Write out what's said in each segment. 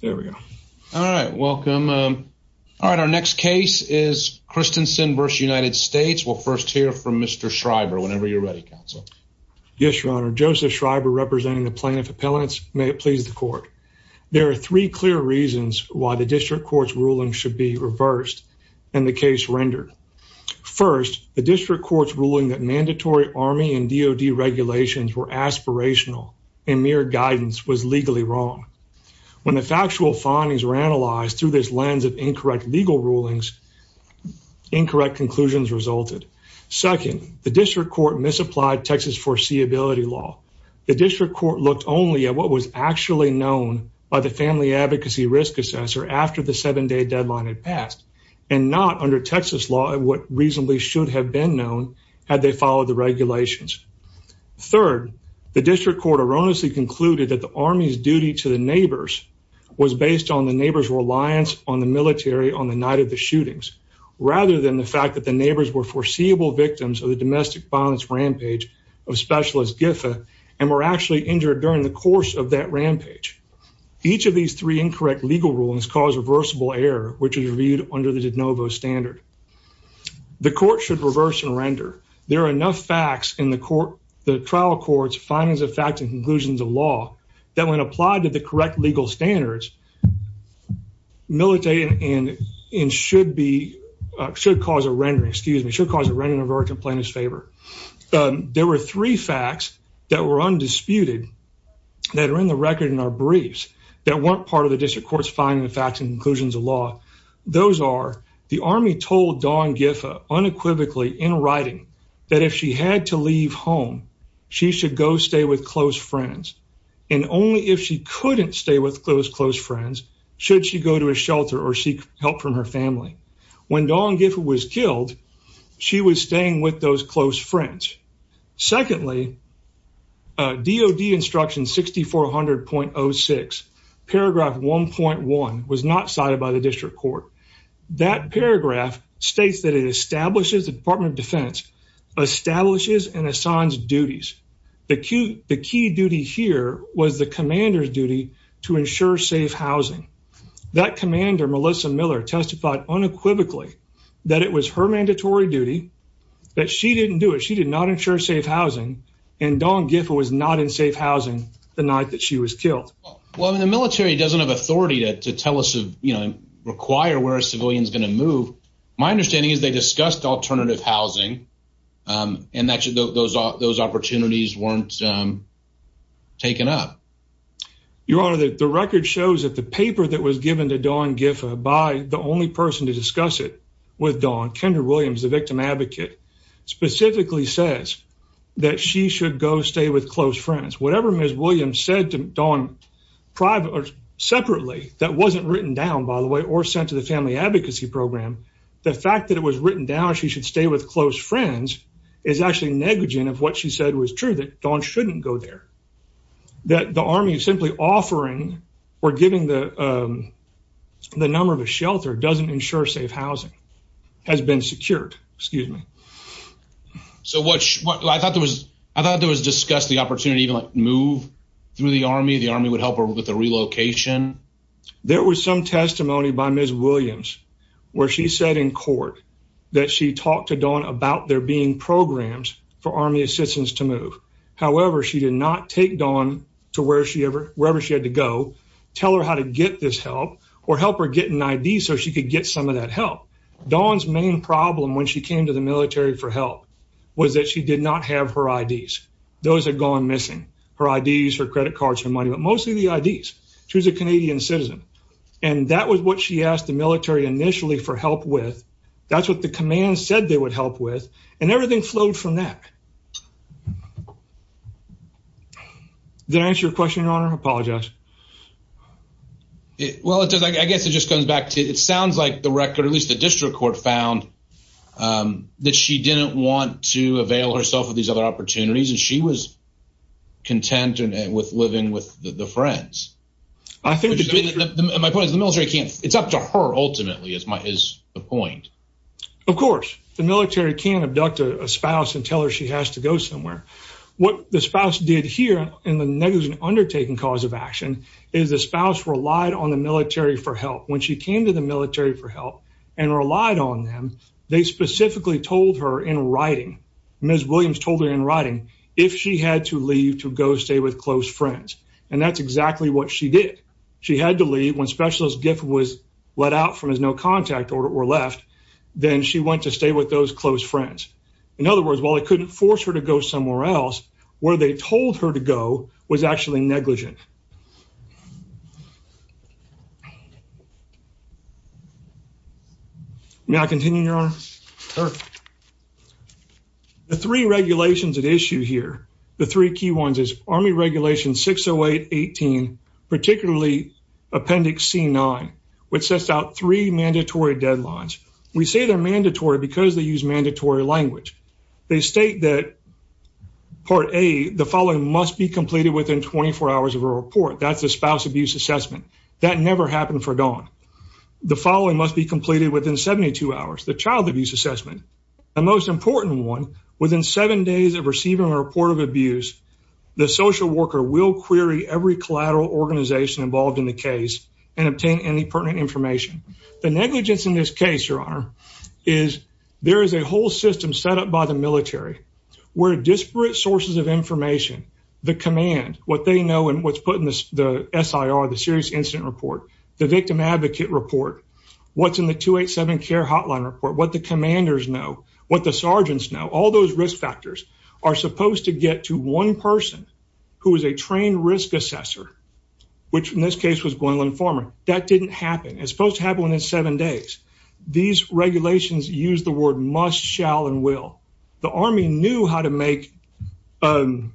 There we go. All right. Welcome. Um, all right. Our next case is Kristensen versus United States. We'll first hear from Mr Schreiber whenever you're ready. Council. Yes, Your Honor. Joseph Schreiber, representing the plaintiff appellants. May it please the court. There are three clear reasons why the district court's ruling should be reversed and the case rendered. First, the district court's ruling that mandatory army and D O D regulations were aspirational and mere guidance was legally wrong. When the factual findings were analyzed through this lens of incorrect legal rulings, incorrect conclusions resulted. Second, the district court misapplied Texas foreseeability law. The district court looked on Lee at what was actually known by the Family Advocacy Risk Assessor after the seven day deadline had passed and not under Texas law. What reasonably should have been known had they followed the regulations. Third, the district court erroneously concluded that the army's duty to the neighbors was based on the neighbors reliance on the military on the night of the shootings rather than the fact that the neighbors were foreseeable victims of the domestic violence rampage of specialist Giffa and were actually injured during the course of that rampage. Each of these three incorrect legal rulings cause reversible air, which is reviewed under the de novo standard. The court should reverse and render. There are enough facts in the court, the trial courts, findings of facts and conclusions of law that when applied to the correct legal standards military and it should be should cause a rendering excuse me should cause a rendering of our complaint is favor. Um, there were three facts that were undisputed that are in the record in our briefs that weren't part of the district court's finding the facts and conclusions of law. Those are the army told Don Giffa unequivocally in writing that if she had to leave home, she should go stay with close friends. And only if she couldn't stay with close close friends should she go to a shelter or seek help from her family. When Don Giffa was killed, she was staying with those close friends. Secondly, D. O. D. Instruction 6400.06 paragraph 1.1 was not cited by the district court. That paragraph states that it establishes the Department of Defense establishes and assigns duties. The key. The key duty here was the commander's duty to ensure safe housing. That commander, Melissa Miller, testified unequivocally that it was her mandatory duty that she didn't do it. She did not ensure safe housing, and Don Giffa was not in safe housing the night that she was killed. Well, the military doesn't have authority to tell us of, you know, require where a civilian is going to move. My understanding is they discussed alternative housing. Um, and that those those opportunities weren't, um, taken up. Your honor, the record shows that the paper that was given to Don Giffa by the only person to discuss it with Don Kendra Williams, the victim advocate, specifically says that she should go stay with close friends. Whatever Miss Williams said to Don private or separately that wasn't written down, by the way, or sent to the family advocacy program. The fact that it was written down, she should stay with close friends is actually negligent of what she said was true, that Don shouldn't go there, that the army is simply offering or giving the, um, the number of a shelter doesn't ensure safe housing has been secured. Excuse me. So what I thought there was I thought there was discussed the opportunity to move through the army. The army would help her with the relocation. There was some testimony by Miss Williams where she said in court that she talked to Don about there being programs for army assistance to move. However, she did not take Don to where she ever wherever she had to go, tell her how to get this help or help her get an I. D. So she could get some of that help. Dawn's main problem when she came to the military for help was that she did not have her I. D. S. Those had gone missing her I. D. S. Her credit cards for money, but mostly the I. D. S. She was a Canadian citizen, and that was what she asked the military initially for help with. That's what the command said they would help with, and everything flowed from that. The answer your question on her apologize. Well, I guess it just comes back to it sounds like the record, at least the district court found, um, that she didn't want to avail herself of these other opportunities, and she was content and with living with the friends. I think my point is the military can't. It's up to her. Ultimately, it's my is the point. Of course, the military can abduct a spouse and tell her she has to go somewhere. What the spouse did here in the negligent undertaking cause of action is the spouse relied on the military for help when she came to the military for help and relied on them. They specifically told her in writing. Ms Williams told her in writing if she had to leave to go stay with close friends, and that's exactly what she did. She had to leave when specialist gift was let out from his no contact order or left. Then she went to stay with those close friends. In other words, while I couldn't force her to go somewhere else where they told her to go was actually negligent. Yeah. May I continue your the three regulations at issue here. The three key ones is Army Regulation 608 18, particularly Appendix C nine, which sets out three mandatory deadlines. We say they're mandatory because they use mandatory language. They state that part a the following must be completed within 24 hours of a report. That's a spouse abuse assessment that never happened for gone. The following must be completed within 72 hours. The child abuse assessment, the most important one within seven days of receiving a report of abuse. The social worker will query every collateral organization involved in the case and obtain any pertinent information. The negligence in this case, your honor, is there is a whole system set up by the military where disparate sources of the S. I. R. The serious incident report the victim advocate report what's in the 287 care hotline report what the commanders know what the sergeants know all those risk factors are supposed to get to one person who is a trained risk assessor, which in this case was Gwendolyn Farmer. That didn't happen. It's supposed to happen in seven days. These regulations use the word must shall and will. The army knew how to make, um,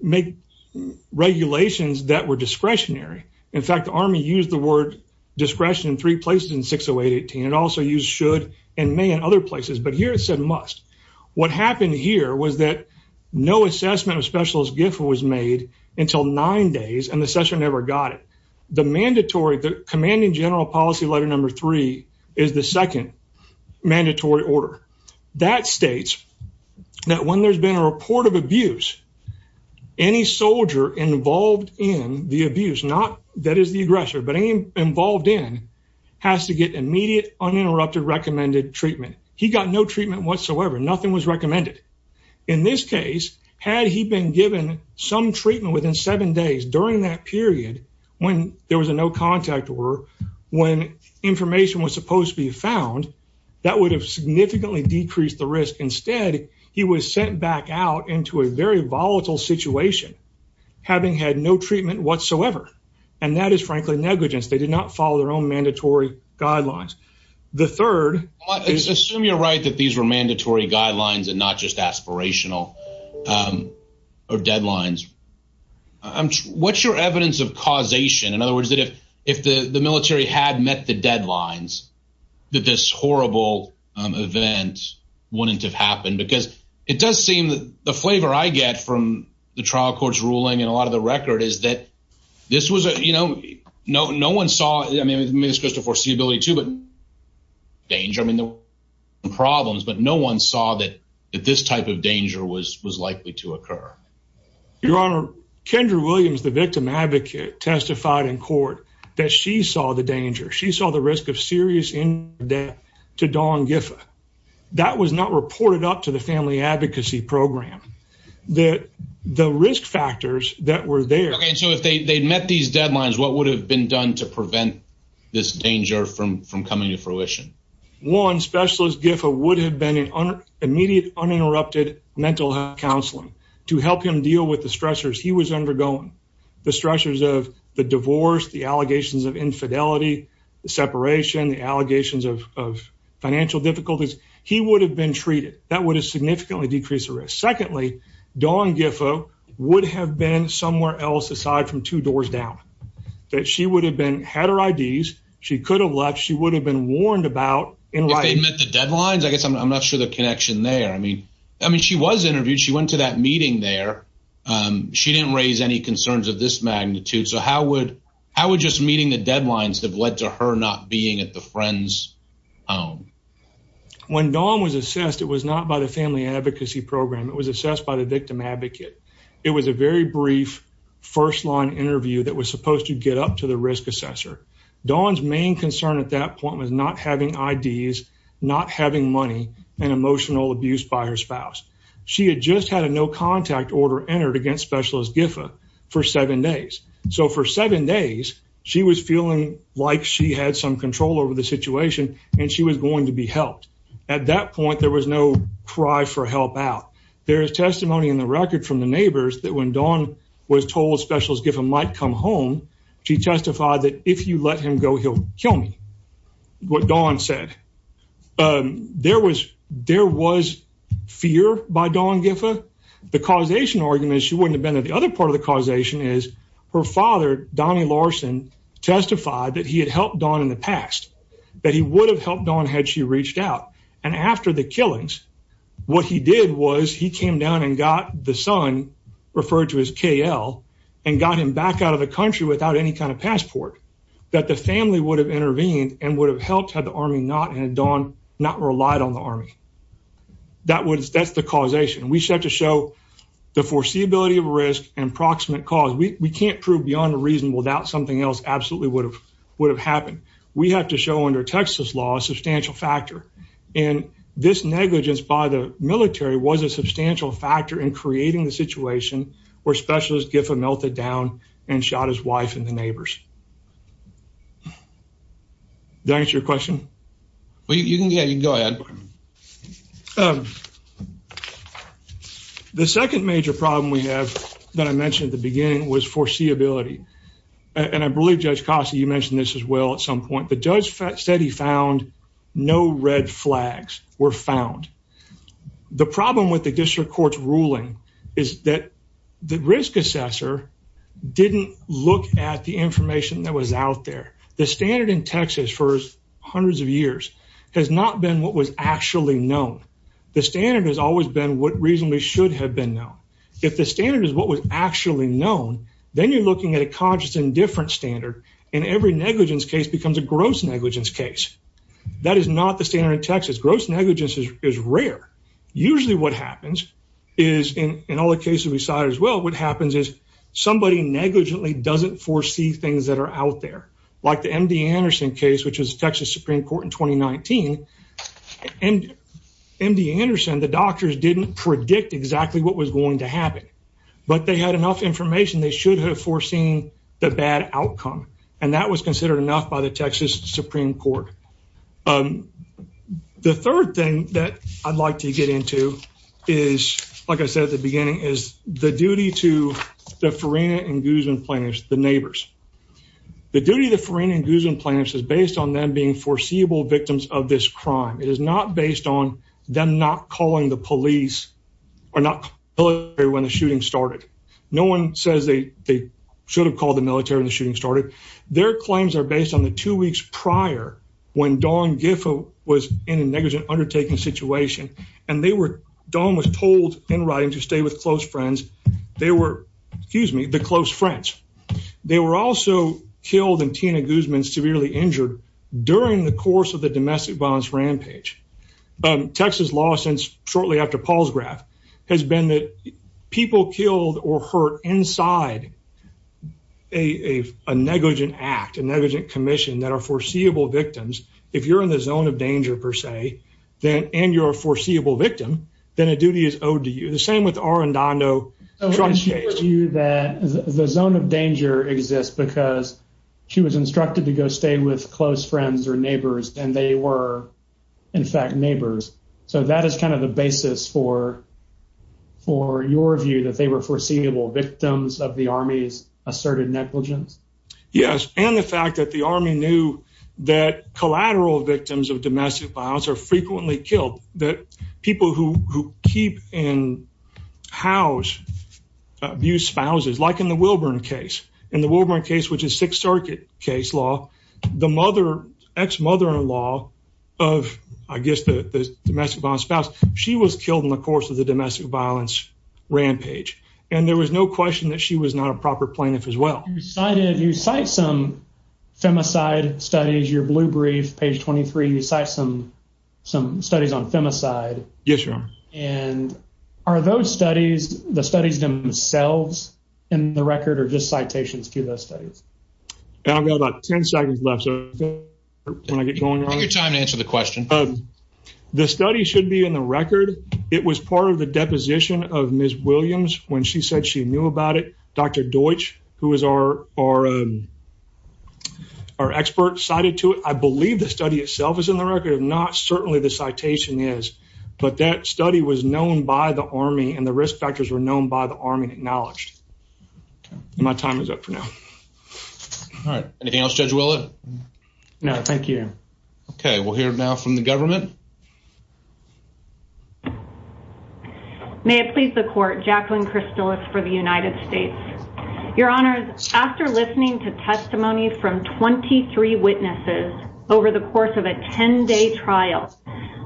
make regulations that were discretionary. In fact, the army used the word discretion three places in 608 18 and also use should and may in other places. But here it said must. What happened here was that no assessment of specialist gift was made until nine days and the session never got it. The mandatory commanding general policy letter number three is the second mandatory order that states that when there's been a report of abuse, any soldier involved in the abuse, not that is the aggressor, but involved in has to get immediate uninterrupted recommended treatment. He got no treatment whatsoever. Nothing was recommended. In this case, had he been given some treatment within seven days during that period when there was a no contact or when information was supposed to be found, that would have significantly decreased the risk. Instead, he was sent back out into a very volatile situation, having had no treatment whatsoever. And that is frankly negligence. They did not follow their own mandatory guidelines. The third is assume you're right that these were mandatory guidelines and not just aspirational or deadlines. I'm what's your evidence of causation? In other words, that if if the military had met the deadlines that this horrible event wouldn't have happened because it does seem that the flavor I get from the trial court's ruling and a lot of the record is that this was, you know, no, no one saw. I mean, it's just a foreseeability to danger. I mean, the problems, but no one saw that this type of danger was was likely to occur. Your Honor, Kendra Williams, the victim advocate, testified in court that she saw the danger. She saw the risk of serious death to dawn Giff. That was not reported up to the family advocacy program that the risk factors that were there. So if they met these deadlines, what would have been done to prevent this danger from from coming to fruition? One specialist Giff would have been an immediate uninterrupted mental health counseling to help him deal with the stressors he was undergoing. The stressors of the divorce, the allegations of infidelity, the separation, the allegations of financial difficulties. He would have been treated. That would have significantly decrease the risk. Secondly, dawn Giff would have been somewhere else aside from two doors down that she would have been had her I. D. S. She could have left. She would have been warned about in life. They met the deadlines. I guess I'm not sure the connection there. I mean, I mean, she was interviewed. She went to that meeting there. Um, she didn't raise any concerns of this magnitude. So how would how would just meeting the deadlines have led to her not being at the friends? Um, when dawn was assessed, it was not by the family advocacy program. It was assessed by the victim advocate. It was a very brief first line interview that was supposed to get up to the risk assessor. Dawn's main concern at that point was not having I. D. S. Not having money and emotional abuse by her spouse. She had just had a no contact order entered against specialist Giff for seven days. So for seven days she was feeling like she had some control over the situation and she was going to be helped. At that point, there was no cry for help out. There is testimony in the record from the might come home. She testified that if you let him go, he'll kill me. What dawn said? Um, there was there was fear by dawn. Giff. Ah, the causation argument. She wouldn't have been at the other part of the causation is her father, Donnie Larson, testified that he had helped on in the past that he would have helped on had she reached out. And after the killings, what he did was he came down and got the son referred to his KL and got him back out of the country without any kind of passport that the family would have intervened and would have helped had the army not had dawn not relied on the army. That was that's the causation we set to show the foreseeability of risk and proximate cause. We can't prove beyond a reasonable doubt. Something else absolutely would have would have happened. We have to show under Texas law a substantial factor, and this negligence by the military was a substantial factor in creating the situation where specialist Gifford melted down and shot his wife and the neighbors. That's your question. Well, you can get you go ahead. The second major problem we have that I mentioned at the beginning was foreseeability, and I believe Judge Costa. You mentioned this as well. At some point, the judge said he found no red flags were found. The problem with the district court's ruling is that the risk assessor didn't look at the information that was out there. The standard in Texas first hundreds of years has not been what was actually known. The standard has always been what reasonably should have been known. If the standard is what was actually known, then you're looking at a conscious and different standard in every negligence case becomes a gross negligence case. That is not the standard in Texas. Gross negligence is rare. Usually what happens is in all the cases we saw as well, what happens is somebody negligently doesn't foresee things that are out there, like the M. D. Anderson case, which is Texas Supreme Court in 2019 and M. D. Anderson. The doctors didn't predict exactly what was going to happen, but they had enough information. They should have foreseen the bad outcome, and that was considered enough by the Texas Supreme Court. Um, the third thing that I'd like to get into is, like I said at the beginning is the duty to the Farina and Guzman plaintiffs, the neighbors. The duty of the Farina and Guzman plaintiffs is based on them being foreseeable victims of this crime. It is not based on them not calling the police or not when the shooting started. No one says they should have called the military in the started. Their claims are based on the two weeks prior when Don Giff was in a negligent undertaking situation, and they were Don was told in writing to stay with close friends. They were excuse me, the close friends. They were also killed in Tina Guzman severely injured during the course of the domestic violence rampage. Um, Texas law since shortly after Paul's graph has been that people killed or hurt inside a negligent act, a negligent commission that are foreseeable victims. If you're in the zone of danger, per se, then and you're a foreseeable victim, then a duty is owed to you. The same with our and I know that the zone of danger exists because she was instructed to go stay with close friends or neighbors, and they were in as kind of the basis for for your view that they were foreseeable victims of the Army's asserted negligence. Yes, and the fact that the army knew that collateral victims of domestic violence are frequently killed that people who keep in house abuse spouses, like in the Wilburn case in the Wilburn case, which is Sixth Circuit case law. The mother, ex mother in law of, I guess, the domestic violence spouse. She was killed in the course of the domestic violence rampage, and there was no question that she was not a proper plaintiff as well. Decided you cite some femicide studies. Your blue brief page 23. You cite some some studies on femicide. Yes, sir. And are those studies the studies themselves in the record or just citations to the studies? And I've got about 10 seconds left. So when I get going on your time to answer the question, the study should be in the record. It was part of the deposition of Miss Williams when she said she knew about it. Dr Deutsch, who is our are our expert cited to it. I believe the study itself is in the record. If not, certainly the citation is. But that study was known by the army, and the risk factors were known by the army acknowledged. My time is up for now. All right. Anything else? Judge? Will it? No, thank you. Okay, we'll hear now from the government. May it please the court. Jacqueline Crystal is for the United States. Your honors. After listening to testimony from 23 witnesses over the course of a 10 day trial,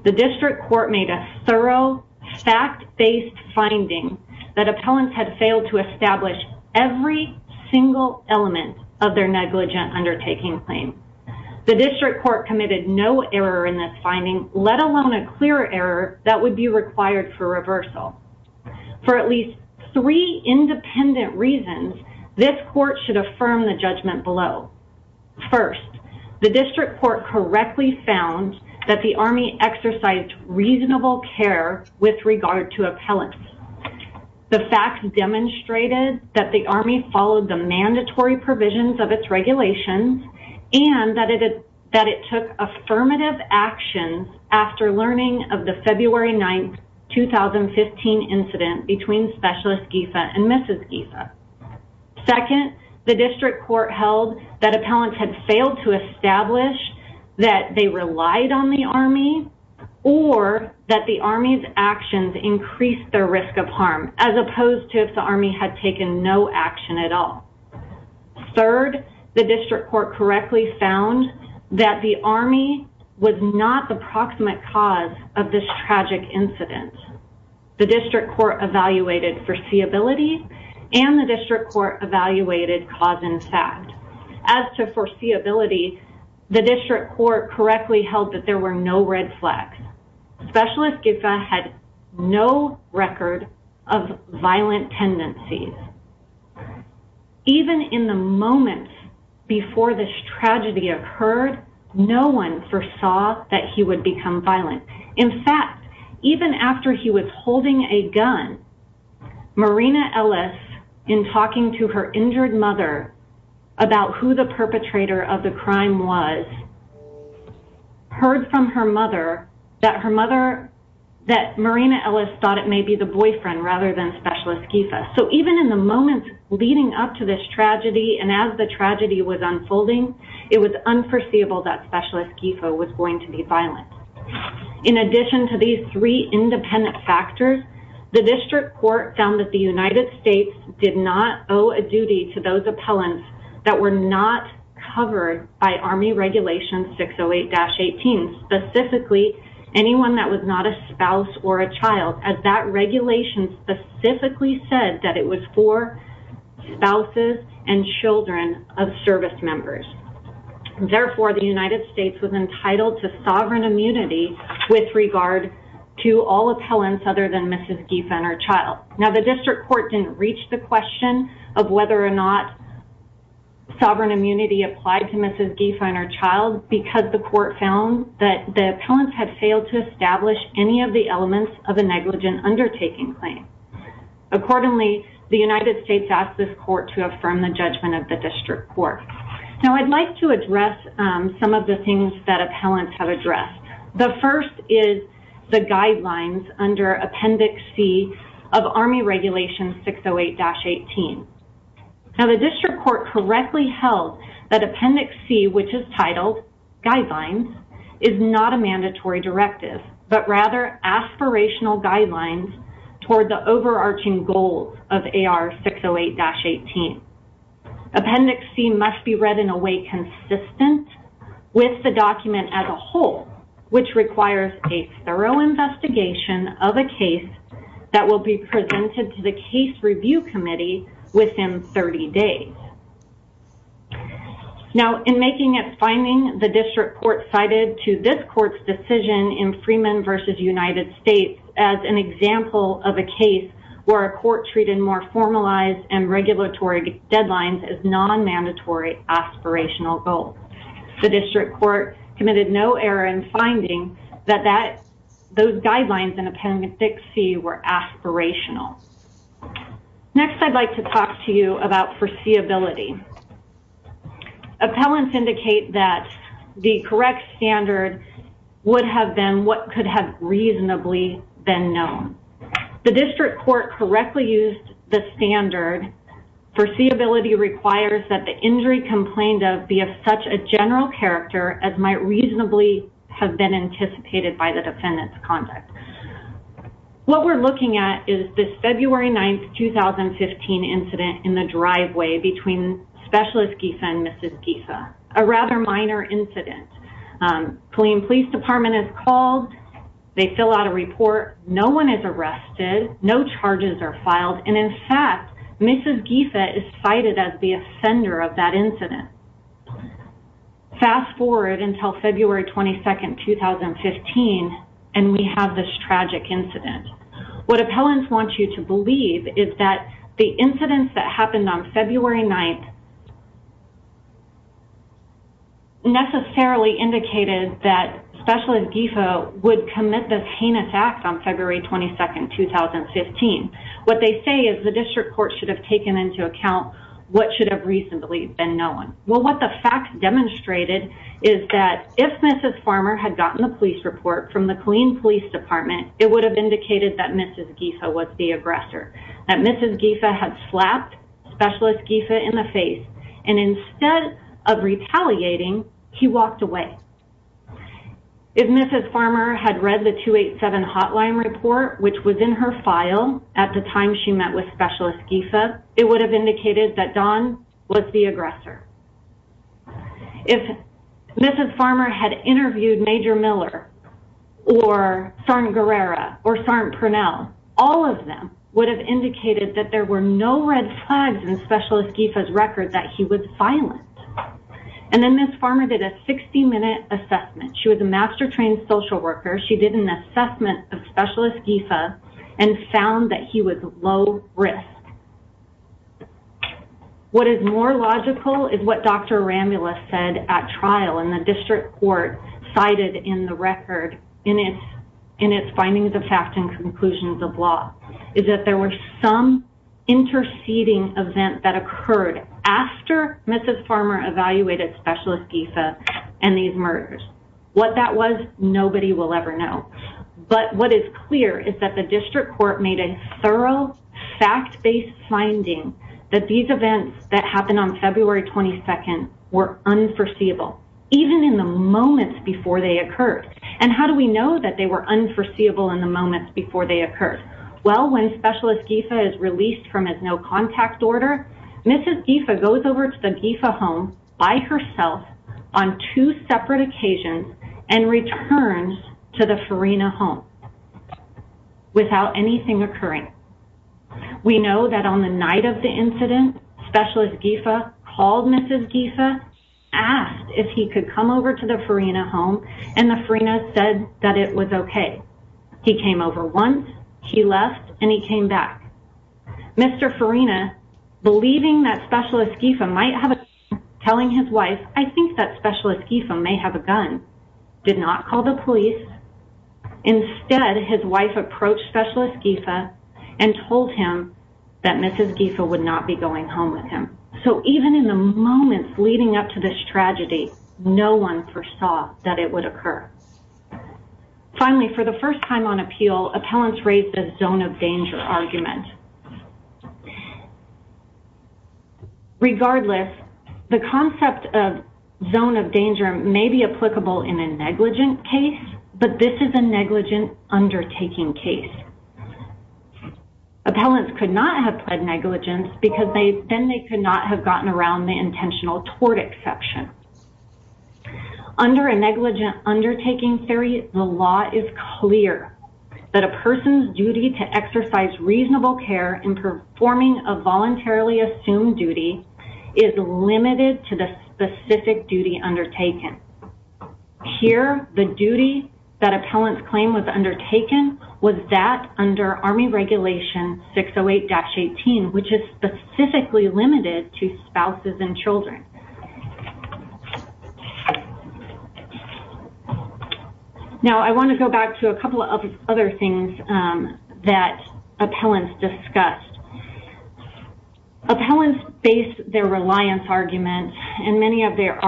the district court made a thorough fact based finding that there was not a single element of their negligent undertaking claim. The district court committed no error in this finding, let alone a clear error that would be required for reversal. For at least three independent reasons, this court should affirm the judgment below. First, the district court correctly found that the army exercised reasonable care with regard to the mandatory provisions of its regulations, and that it took affirmative actions after learning of the February 9th, 2015 incident between Specialist Giffa and Mrs. Giffa. Second, the district court held that appellants had failed to establish that they relied on the army, or that the army's actions increased their risk of harm, as opposed to if the army had taken no action at all. Third, the district court correctly found that the army was not the proximate cause of this tragic incident. The district court evaluated foreseeability, and the district court evaluated cause and fact. As to foreseeability, the district court correctly held that there were no red flags. Specialist Giffa had no record of violent tendencies. Even in the moments before this tragedy occurred, no one foresaw that he would become violent. In fact, even after he was holding a gun, Marina Ellis, in talking to her injured mother about who the perpetrator of the crime was, heard from her mother that Marina Ellis thought it may be the boyfriend, rather than Specialist Giffa. So even in the moments leading up to this tragedy, and as the tragedy was unfolding, it was unforeseeable that Specialist Giffa was going to be violent. In addition to these three independent factors, the district court found that the United States did not cover by Army Regulation 608-18, specifically anyone that was not a spouse or a child, as that regulation specifically said that it was for spouses and children of service members. Therefore, the United States was entitled to sovereign immunity with regard to all appellants other than Mrs. Giffa and her child. Now, the district court didn't reach the committee applied to Mrs. Giffa and her child because the court found that the appellants had failed to establish any of the elements of a negligent undertaking claim. Accordingly, the United States asked this court to affirm the judgment of the district court. Now, I'd like to address some of the things that appellants have addressed. The first is the guidelines under Appendix C of Army Regulation 608-18. Now, the district court correctly held that Appendix C, which is titled Guidelines, is not a mandatory directive, but rather aspirational guidelines toward the overarching goals of AR 608-18. Appendix C must be read in a way consistent with the document as a whole, which requires a thorough investigation of a case that will be presented to the case review committee within 30 days. Now, in making its finding, the district court cited to this court's decision in Freeman versus United States as an example of a case where a court treated more formalized and regulatory deadlines as non-mandatory aspirational goals. The district court committed no error in finding that those guidelines in Appendix C were aspirational. Next, I'd like to talk to you about foreseeability. Appellants indicate that the correct standard would have been what could have reasonably been known. The district court correctly used the standard. Foreseeability requires that the injury complained of be of such a general character as might reasonably have been anticipated by the defendant's conduct. What we're looking at is this February 9th, 2015 incident in the driveway between Specialist Giffa and Mrs. Giffa, a rather minor incident. Killeen Police Department is called. They fill out a report. No one is arrested. No charges are filed. And in fact, Mrs. Giffa is cited as the offender of that incident. Fast forward until February 22nd, 2015, and we have this tragic incident. What appellants want you to believe is that the incidents that happened on February 9th necessarily indicated that Specialist Giffa would commit this heinous act on February 22nd, 2015. What they say is the district court should have taken into account what should have recently been known. Well, what the facts demonstrated is that if Mrs. Farmer had gotten the police report from the Killeen Police Department, it would have indicated that Mrs. Giffa was the aggressor, that Mrs. Giffa had slapped Specialist Giffa in the face, and instead of retaliating, he walked away. If Mrs. Farmer had read the 287 hotline report, which was in her file at the time she met with Specialist Giffa, it would have indicated that Don was the aggressor. If Mrs. Farmer had interviewed Major Miller or Sergeant Guerrero or Sergeant Purnell, all of them would have indicated that there were no red flags in Specialist Giffa's record that he was violent. And then Mrs. Farmer did a 60-minute assessment. She was a master-trained social worker. She did an assessment of Specialist Giffa and found that he was low risk. What is more logical is what Dr. Arambula said at trial and the district court cited in the record in its findings of fact and conclusions of law, is that there was some interceding event that occurred after Mrs. Farmer evaluated Specialist Giffa and these murders. What that was, nobody will ever know. But what is clear is that the district court made a thorough fact-based finding that these events that happened on the night of the incident, Specialist Giffa called Mrs. Giffa, asked if he could come over to the Farina home and the Farina said that it was okay. He came over once, he left, and he came back. Mr. Farina, believing that Specialist Giffa might have a gun, telling his wife, I think that Specialist Giffa may have a gun, did not call the police. Instead, his wife approached Specialist Giffa and told him that Mrs. Giffa would not be going home with him. So even in the moments leading up to this tragedy, no one foresaw that it would occur. Finally, for the first time on appeal, appellants raised a zone of danger argument. Regardless, the concept of zone of danger may be applicable in a negligent case, but this is a negligent undertaking case. Appellants could not have pled negligence because then they could not have gotten around the intentional tort exception. Under a negligent undertaking theory, the law is clear that a person's duty to exercise reasonable care in performing a voluntarily assumed duty is limited to the specific duty undertaken. Here, the duty that appellants claim was that under Army Regulation 608-18, which is specifically limited to spouses and children. Now, I want to go back to a couple of other things that appellants discussed. Appellants based their reliance argument and many of them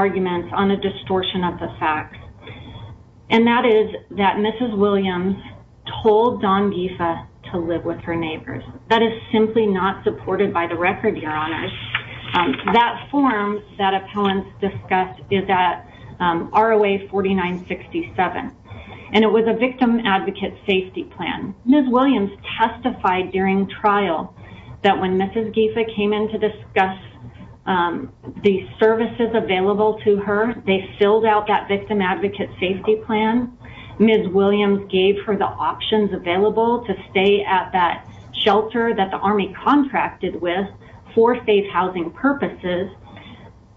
told Don Giffa to live with her neighbors. That is simply not supported by the record, Your Honor. That form that appellants discussed is at ROA 4967, and it was a victim advocate safety plan. Ms. Williams testified during trial that when Mrs. Giffa came in to discuss the services available to her, they filled out that victim advocate safety plan. Ms. Williams gave her the options available to stay at that shelter that the Army contracted with for safe housing purposes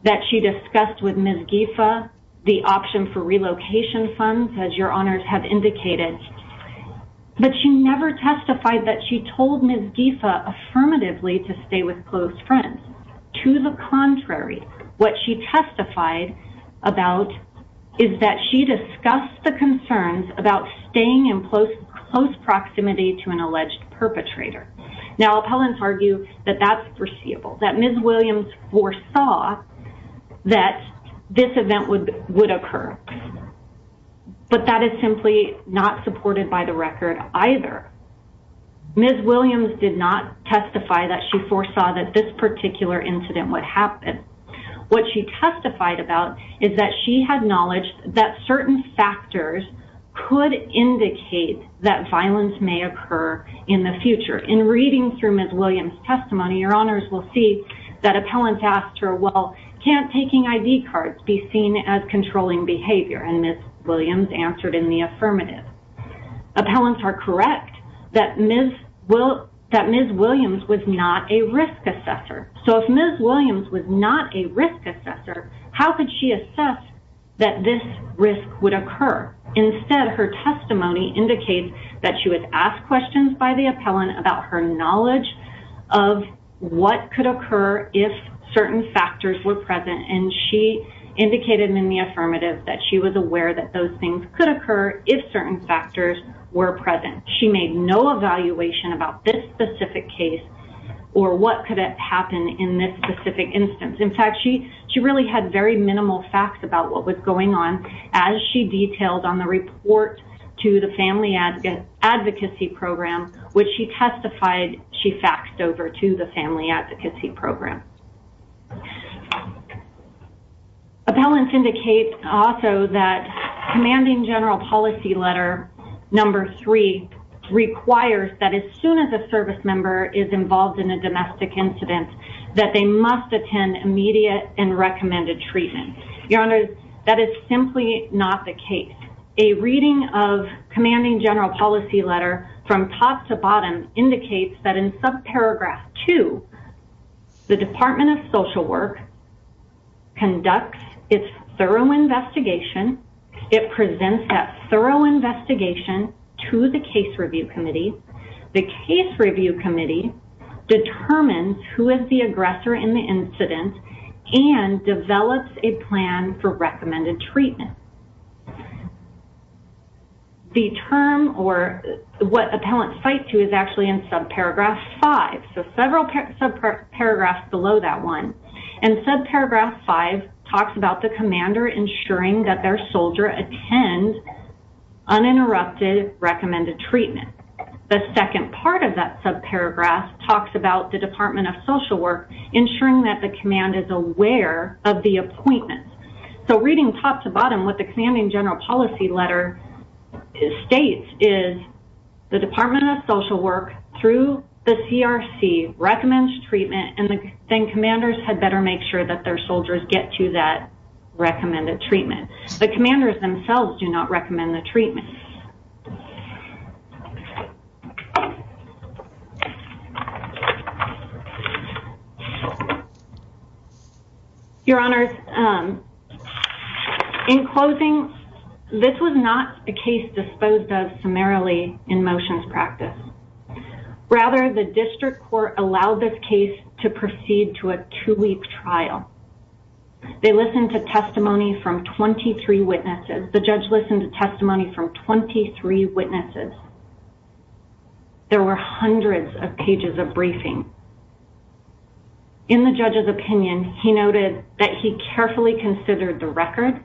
that she discussed with Ms. Giffa, the option for relocation funds, as Your Honors have indicated. But she never testified that she told Ms. Giffa affirmatively to stay with close friends. To the contrary, what she testified about is that she discussed the concerns about staying in close proximity to an alleged perpetrator. Now, appellants argue that that's foreseeable, that Ms. Williams foresaw that this event would occur. But that is simply not supported by the record either. Ms. Williams did not testify that she foresaw that this particular incident would happen. What she testified about is that she had knowledge that certain factors could indicate that violence may occur in the future. In reading through Ms. Williams' testimony, Your Honors will see that appellants asked her, well, can't taking ID cards be seen as controlling behavior? And Ms. Williams answered in the affirmative. Appellants are correct that Ms. Williams was not a risk assessor. How could she assess that this risk would occur? Instead, her testimony indicates that she was asked questions by the appellant about her knowledge of what could occur if certain factors were present. And she indicated in the affirmative that she was aware that those things could occur if certain factors were present. She made no evaluation about this specific case or what could happen in this specific instance. In fact, she really had very minimal facts about what was going on as she detailed on the report to the Family Advocacy Program, which she testified she faxed over to the Family Advocacy Program. Appellants indicate also that commanding general policy letter number three requires that as soon as a service member is involved in a domestic incident, that they must attend immediate and recommended treatment. Your Honors, that is simply not the case. A reading of commanding general policy letter from top to bottom indicates that in sub paragraph two, the Department of Social Work conducts its thorough investigation. It presents that thorough investigation to the case review committee. The case review committee determines who is the aggressor in the incident and develops a plan for recommended treatment. The term or what appellants cite to is actually in sub paragraph five. So several sub paragraphs below that one. And sub paragraph five talks about the commander ensuring that their soldier attend uninterrupted recommended treatment. The second part of that sub paragraph talks about the Department of Social Work ensuring that the command is aware of the appointment. So reading top to bottom, what the commanding general policy letter states is the Department of Social Work through the CRC recommends treatment and then commanders had better make sure that their soldiers get to that recommended treatment. The commanders themselves do not recommend the treatment. Your Honors, in closing, this was not a case disposed of summarily in motions practice. Rather, the district court allowed this case to proceed to a two-week trial. They listened to testimony from 23 witnesses. The judge listened to testimony from 23 witnesses. There were hundreds of pages of briefing. In the judge's opinion, he noted that he carefully considered the record,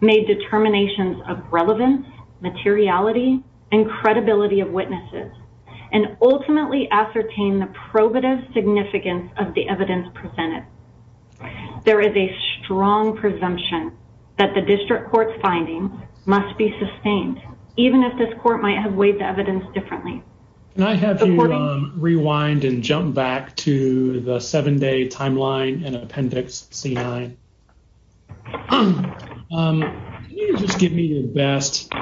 made determinations of relevance, materiality, and credibility of witnesses, and ultimately ascertained the probative significance of the evidence presented. There is a strong presumption that the district court's findings must be sustained, even if this court might have weighed the evidence differently. Can I have you rewind and jump back to the seven-day timeline in Appendix C-9? Can you just give me the best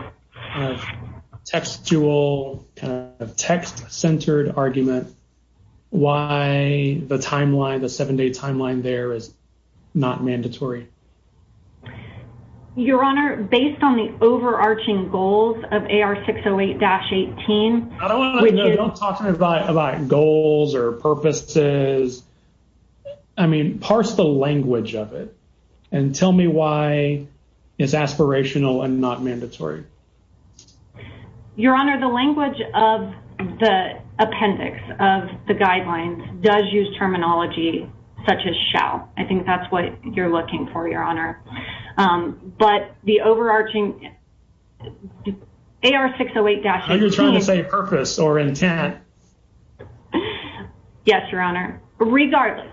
textual, text-centered argument why the timeline, the seven-day timeline there is not mandatory? Your Honor, based on the overarching goals of AR-608-18, I don't want to know. Don't talk to me about goals or purposes. I mean, parse the language of it and tell me why it's aspirational and not mandatory. Your Honor, the language of the appendix of the guidelines does use terminology such as shall. I think that's what you're looking for. Your Honor, but the overarching AR-608-18— Are you trying to say purpose or intent? Yes, Your Honor. Regardless,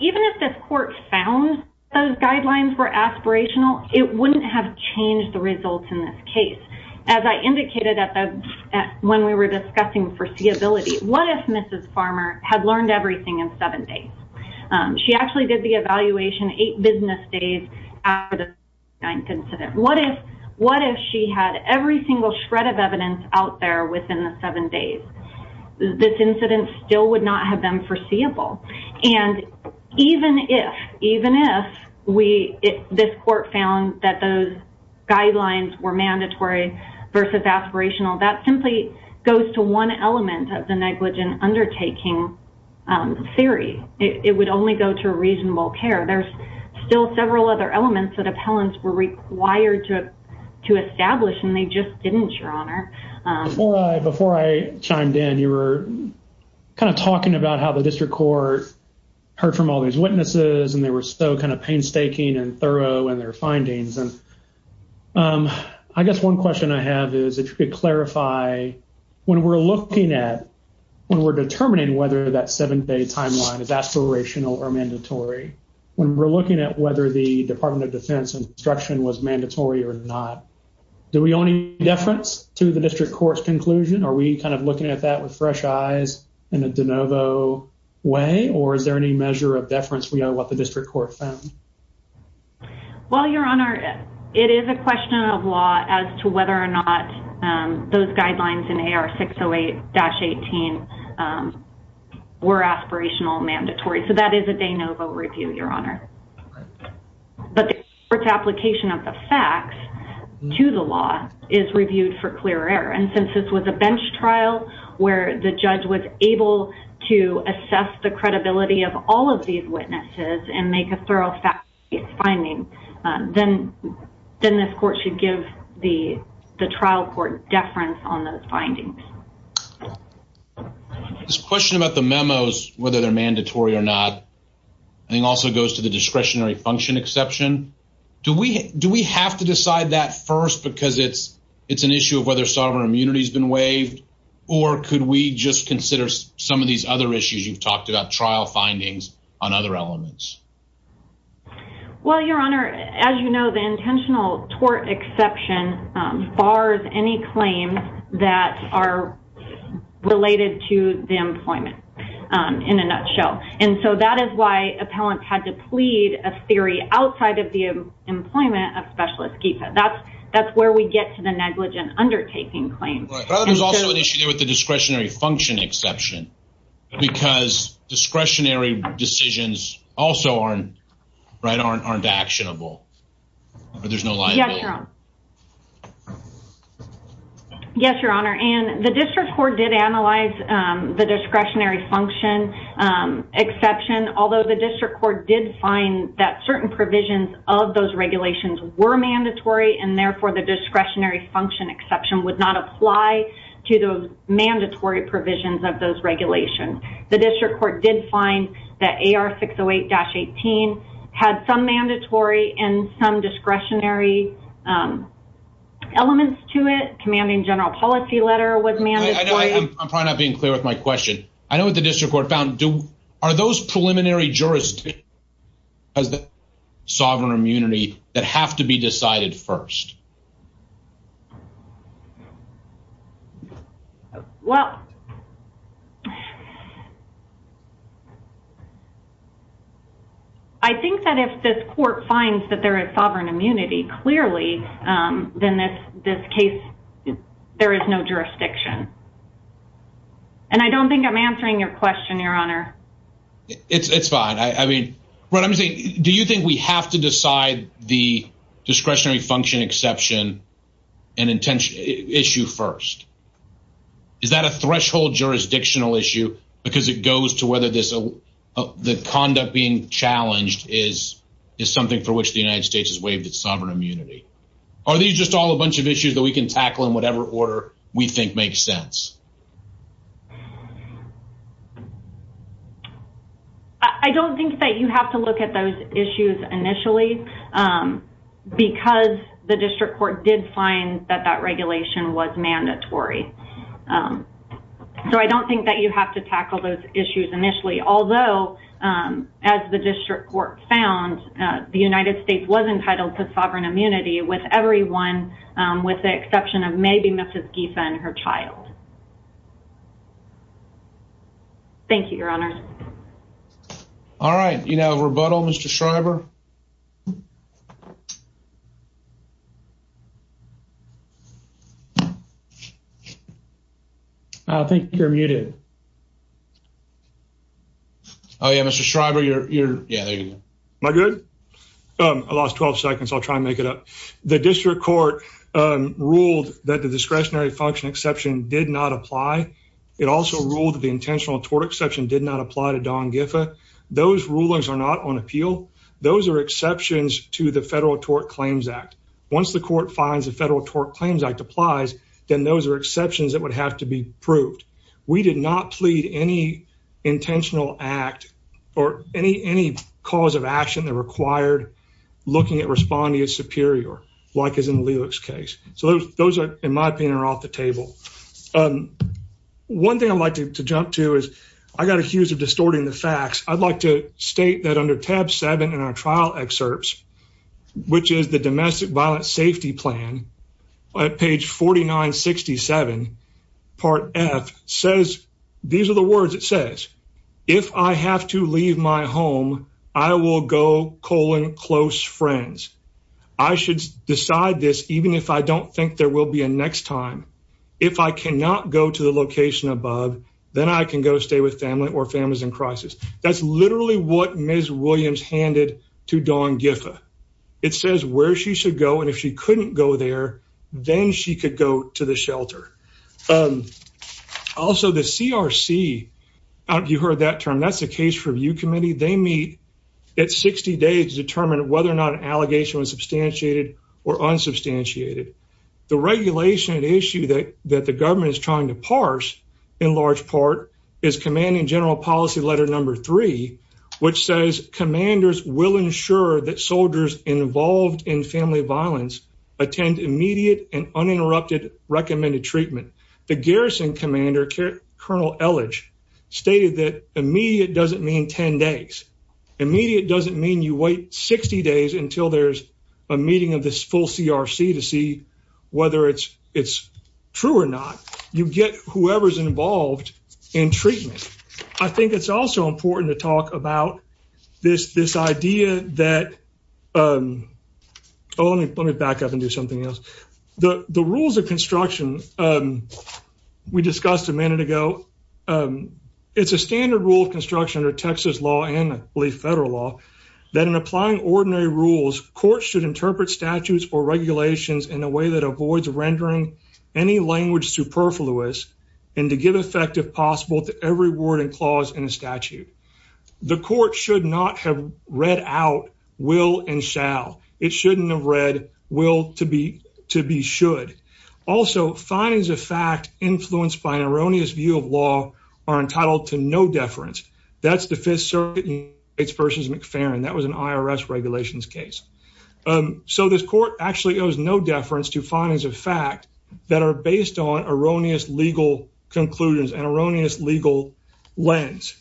even if this court found those guidelines were aspirational, it wouldn't have changed the results in this case. As I indicated when we were discussing foreseeability, what if Mrs. Farmer had learned everything in seven days? She actually did the seven days after the C-9 incident. What if she had every single shred of evidence out there within the seven days? This incident still would not have been foreseeable. Even if this court found that those guidelines were mandatory versus aspirational, that simply goes to one element of the negligent undertaking theory. It would only go to reasonable care. There's still several other elements that appellants were required to establish, and they just didn't, Your Honor. Before I chimed in, you were talking about how the district court heard from all these witnesses, and they were so painstaking and thorough in their findings. I guess one question I have is, if you could clarify, when we're looking at—when we're determining whether that seven-day timeline is aspirational or mandatory, when we're looking at whether the Department of Defense instruction was mandatory or not, do we owe any deference to the district court's conclusion? Are we kind of looking at that with fresh eyes in a de novo way, or is there any measure of deference we owe what the district court found? Well, Your Honor, it is a question of law as to whether or not those mandatory. So that is a de novo review, Your Honor. But the court's application of the facts to the law is reviewed for clear error. And since this was a bench trial where the judge was able to assess the credibility of all of these witnesses and make a thorough finding, then this court should give the trial court deference on those findings. This question about the memos, whether they're mandatory or not, I think also goes to the discretionary function exception. Do we have to decide that first because it's an issue of whether sovereign immunity's been waived, or could we just consider some of these other issues you've talked about—trial findings on other elements? Well, Your Honor, as you know, the intentional tort exception bars any claims that are related to the employment, in a nutshell. And so that is why appellants had to plead a theory outside of the employment of specialist GPA. That's where we get to the negligent undertaking claim. Right. There's also an issue there with the discretionary function exception, because discretionary decisions also aren't actionable. There's no liability. Yes, Your Honor. And the district court did analyze the discretionary function exception, although the district court did find that certain provisions of those regulations were mandatory, and therefore the discretionary function exception would not apply to those mandatory provisions of those regulations. The district court did find that AR 608-18 had some mandatory and some discretionary elements to it. The commanding general policy letter was mandatory. I'm probably not being clear with my question. I know what the district court found. Are those preliminary jurisdictions—sovereign immunity—that have to be decided first? Well, I think that if this court finds that there is sovereign immunity, clearly, then this case, there is no jurisdiction. And I don't think I'm answering your question, Your Honor. It's fine. I mean, what I'm saying, do you think we have to decide the discretionary function exception? Is that a threshold jurisdictional issue? Because it goes to whether the conduct being challenged is something for which the United States has waived its sovereign immunity. Are these just all a bunch of issues that we can tackle in whatever order we think makes sense? I don't think that you have to look at those issues initially, because the district court did find that that regulation was mandatory. So, I don't think that you have to tackle those issues initially. Although, as the district court found, the United States was entitled to sovereign immunity with everyone, with the exception of maybe Mrs. Giffen, her child. Thank you, Your Honor. All right. You have a rebuttal, Mr. Schreiber? I think you're muted. Oh, yeah. Mr. Schreiber, you're... Yeah, there you go. Am I good? I lost 12 seconds. I'll try and make it up. The district court ruled that the discretionary function exception did not apply. It also ruled that the intentional tort exception did not apply to Dawn Giffen. Those rulings are not on appeal. Those are exceptions to the Federal Tort Claims Act. Once the court finds the Federal Tort Claims Act applies, then those are exceptions that would have to be proved. We did not plead any intentional act or any cause of action that required looking at responding as superior, like is in Lelich's case. So, those, in my opinion, are off the table. One thing I'd like to jump to is, I got accused of distorting the facts. I'd like to state that under tab seven in our trial excerpts, which is the Domestic Violence Safety Plan, at page 4967, part F, says, these are the words it says, if I have to leave my home, I will go colon close friends. I should decide this even if I don't think there will be a next time. If I cannot go to the location above, then I can go stay with family or families in crisis. That's literally what Ms. Williams handed to Dawn Giffa. It says where she should go, and if she couldn't go there, then she could go to the shelter. Also, the CRC, I don't know if you heard that term, that's the Case Review Committee, they meet at 60 days to determine whether or not an allegation was substantiated or unsubstantiated. The regulation issue that the government is trying to parse, in large part, is commanding general policy letter number three, which says commanders will ensure that soldiers involved in family violence attend immediate and uninterrupted recommended treatment. The garrison commander, Colonel Elledge, stated that immediate doesn't mean 10 days. Immediate doesn't mean you wait 60 days until there's a meeting of this full CRC to see whether it's true or not. You get whoever's involved in treatment. I think it's also important to talk about this idea that... Oh, let me back up and do something else. The rules of construction we discussed a minute ago, it's a standard rule of construction under Texas law and, I believe, federal law, that in applying ordinary rules, courts should interpret statutes or regulations in a way that avoids rendering any language superfluous and to give effect, if possible, to every word and clause in a statute. The court should not have read out will and shall. It shouldn't have read will to be should. Also, findings of fact influenced by an erroneous view of law are entitled to no deference. That's the Fifth Circuit v. McFerrin. That was an IRS regulations case. So this court actually owes no deference to findings of fact that are based on erroneous legal conclusions and erroneous legal lens.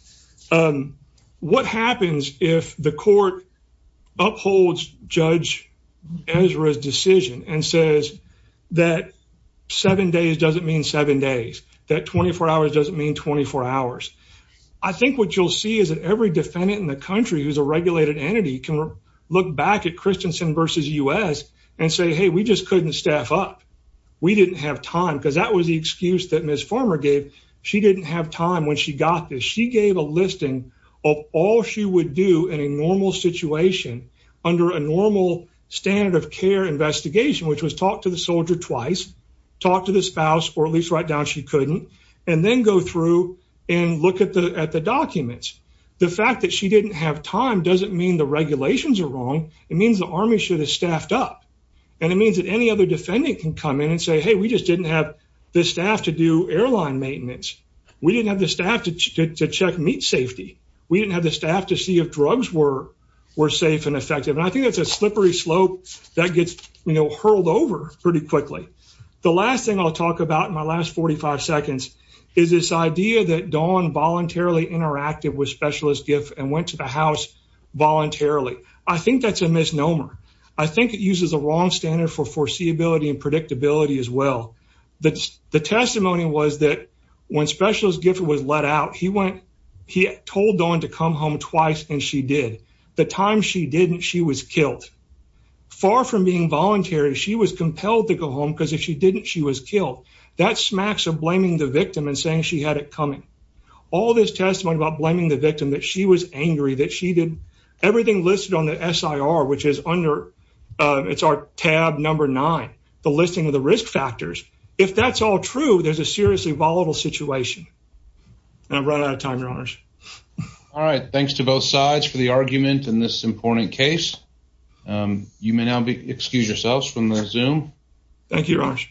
What happens if the court upholds Judge Ezra's decision and says that seven days doesn't mean seven days, that 24 hours doesn't mean 24 hours? I think what you'll see is that every defendant in the country who's a regulated entity can look back at Christensen v. U.S. and say, hey, we just couldn't staff up. We didn't have time, because that was the excuse that Ms. Farmer gave. She didn't have time when she got this. She gave a listing of all she would do in a normal situation under a normal standard of care investigation, which was talk to the soldier twice, talk to the spouse, or at least write down she couldn't, and then go through and look at the documents. The fact that she didn't have time doesn't mean the And it means that any other defendant can come in and say, hey, we just didn't have the staff to do airline maintenance. We didn't have the staff to check meat safety. We didn't have the staff to see if drugs were safe and effective. And I think that's a slippery slope that gets hurled over pretty quickly. The last thing I'll talk about in my last 45 seconds is this idea that Dawn voluntarily interacted with Specialist Giff and went to the I think it uses a wrong standard for foreseeability and predictability as well. The testimony was that when Specialist Giff was let out, he went, he told Dawn to come home twice, and she did. The time she didn't, she was killed. Far from being voluntary, she was compelled to go home, because if she didn't, she was killed. That smacks of blaming the victim and saying she had it coming. All this testimony about blaming the victim, that she was angry, that she did everything listed on the SIR, which is under, it's our tab number nine, the listing of the risk factors. If that's all true, there's a seriously volatile situation. And I'm right out of time, Your Honors. All right. Thanks to both sides for the argument in this important case. You may now excuse yourselves from the Zoom. Thank you, Your Honors.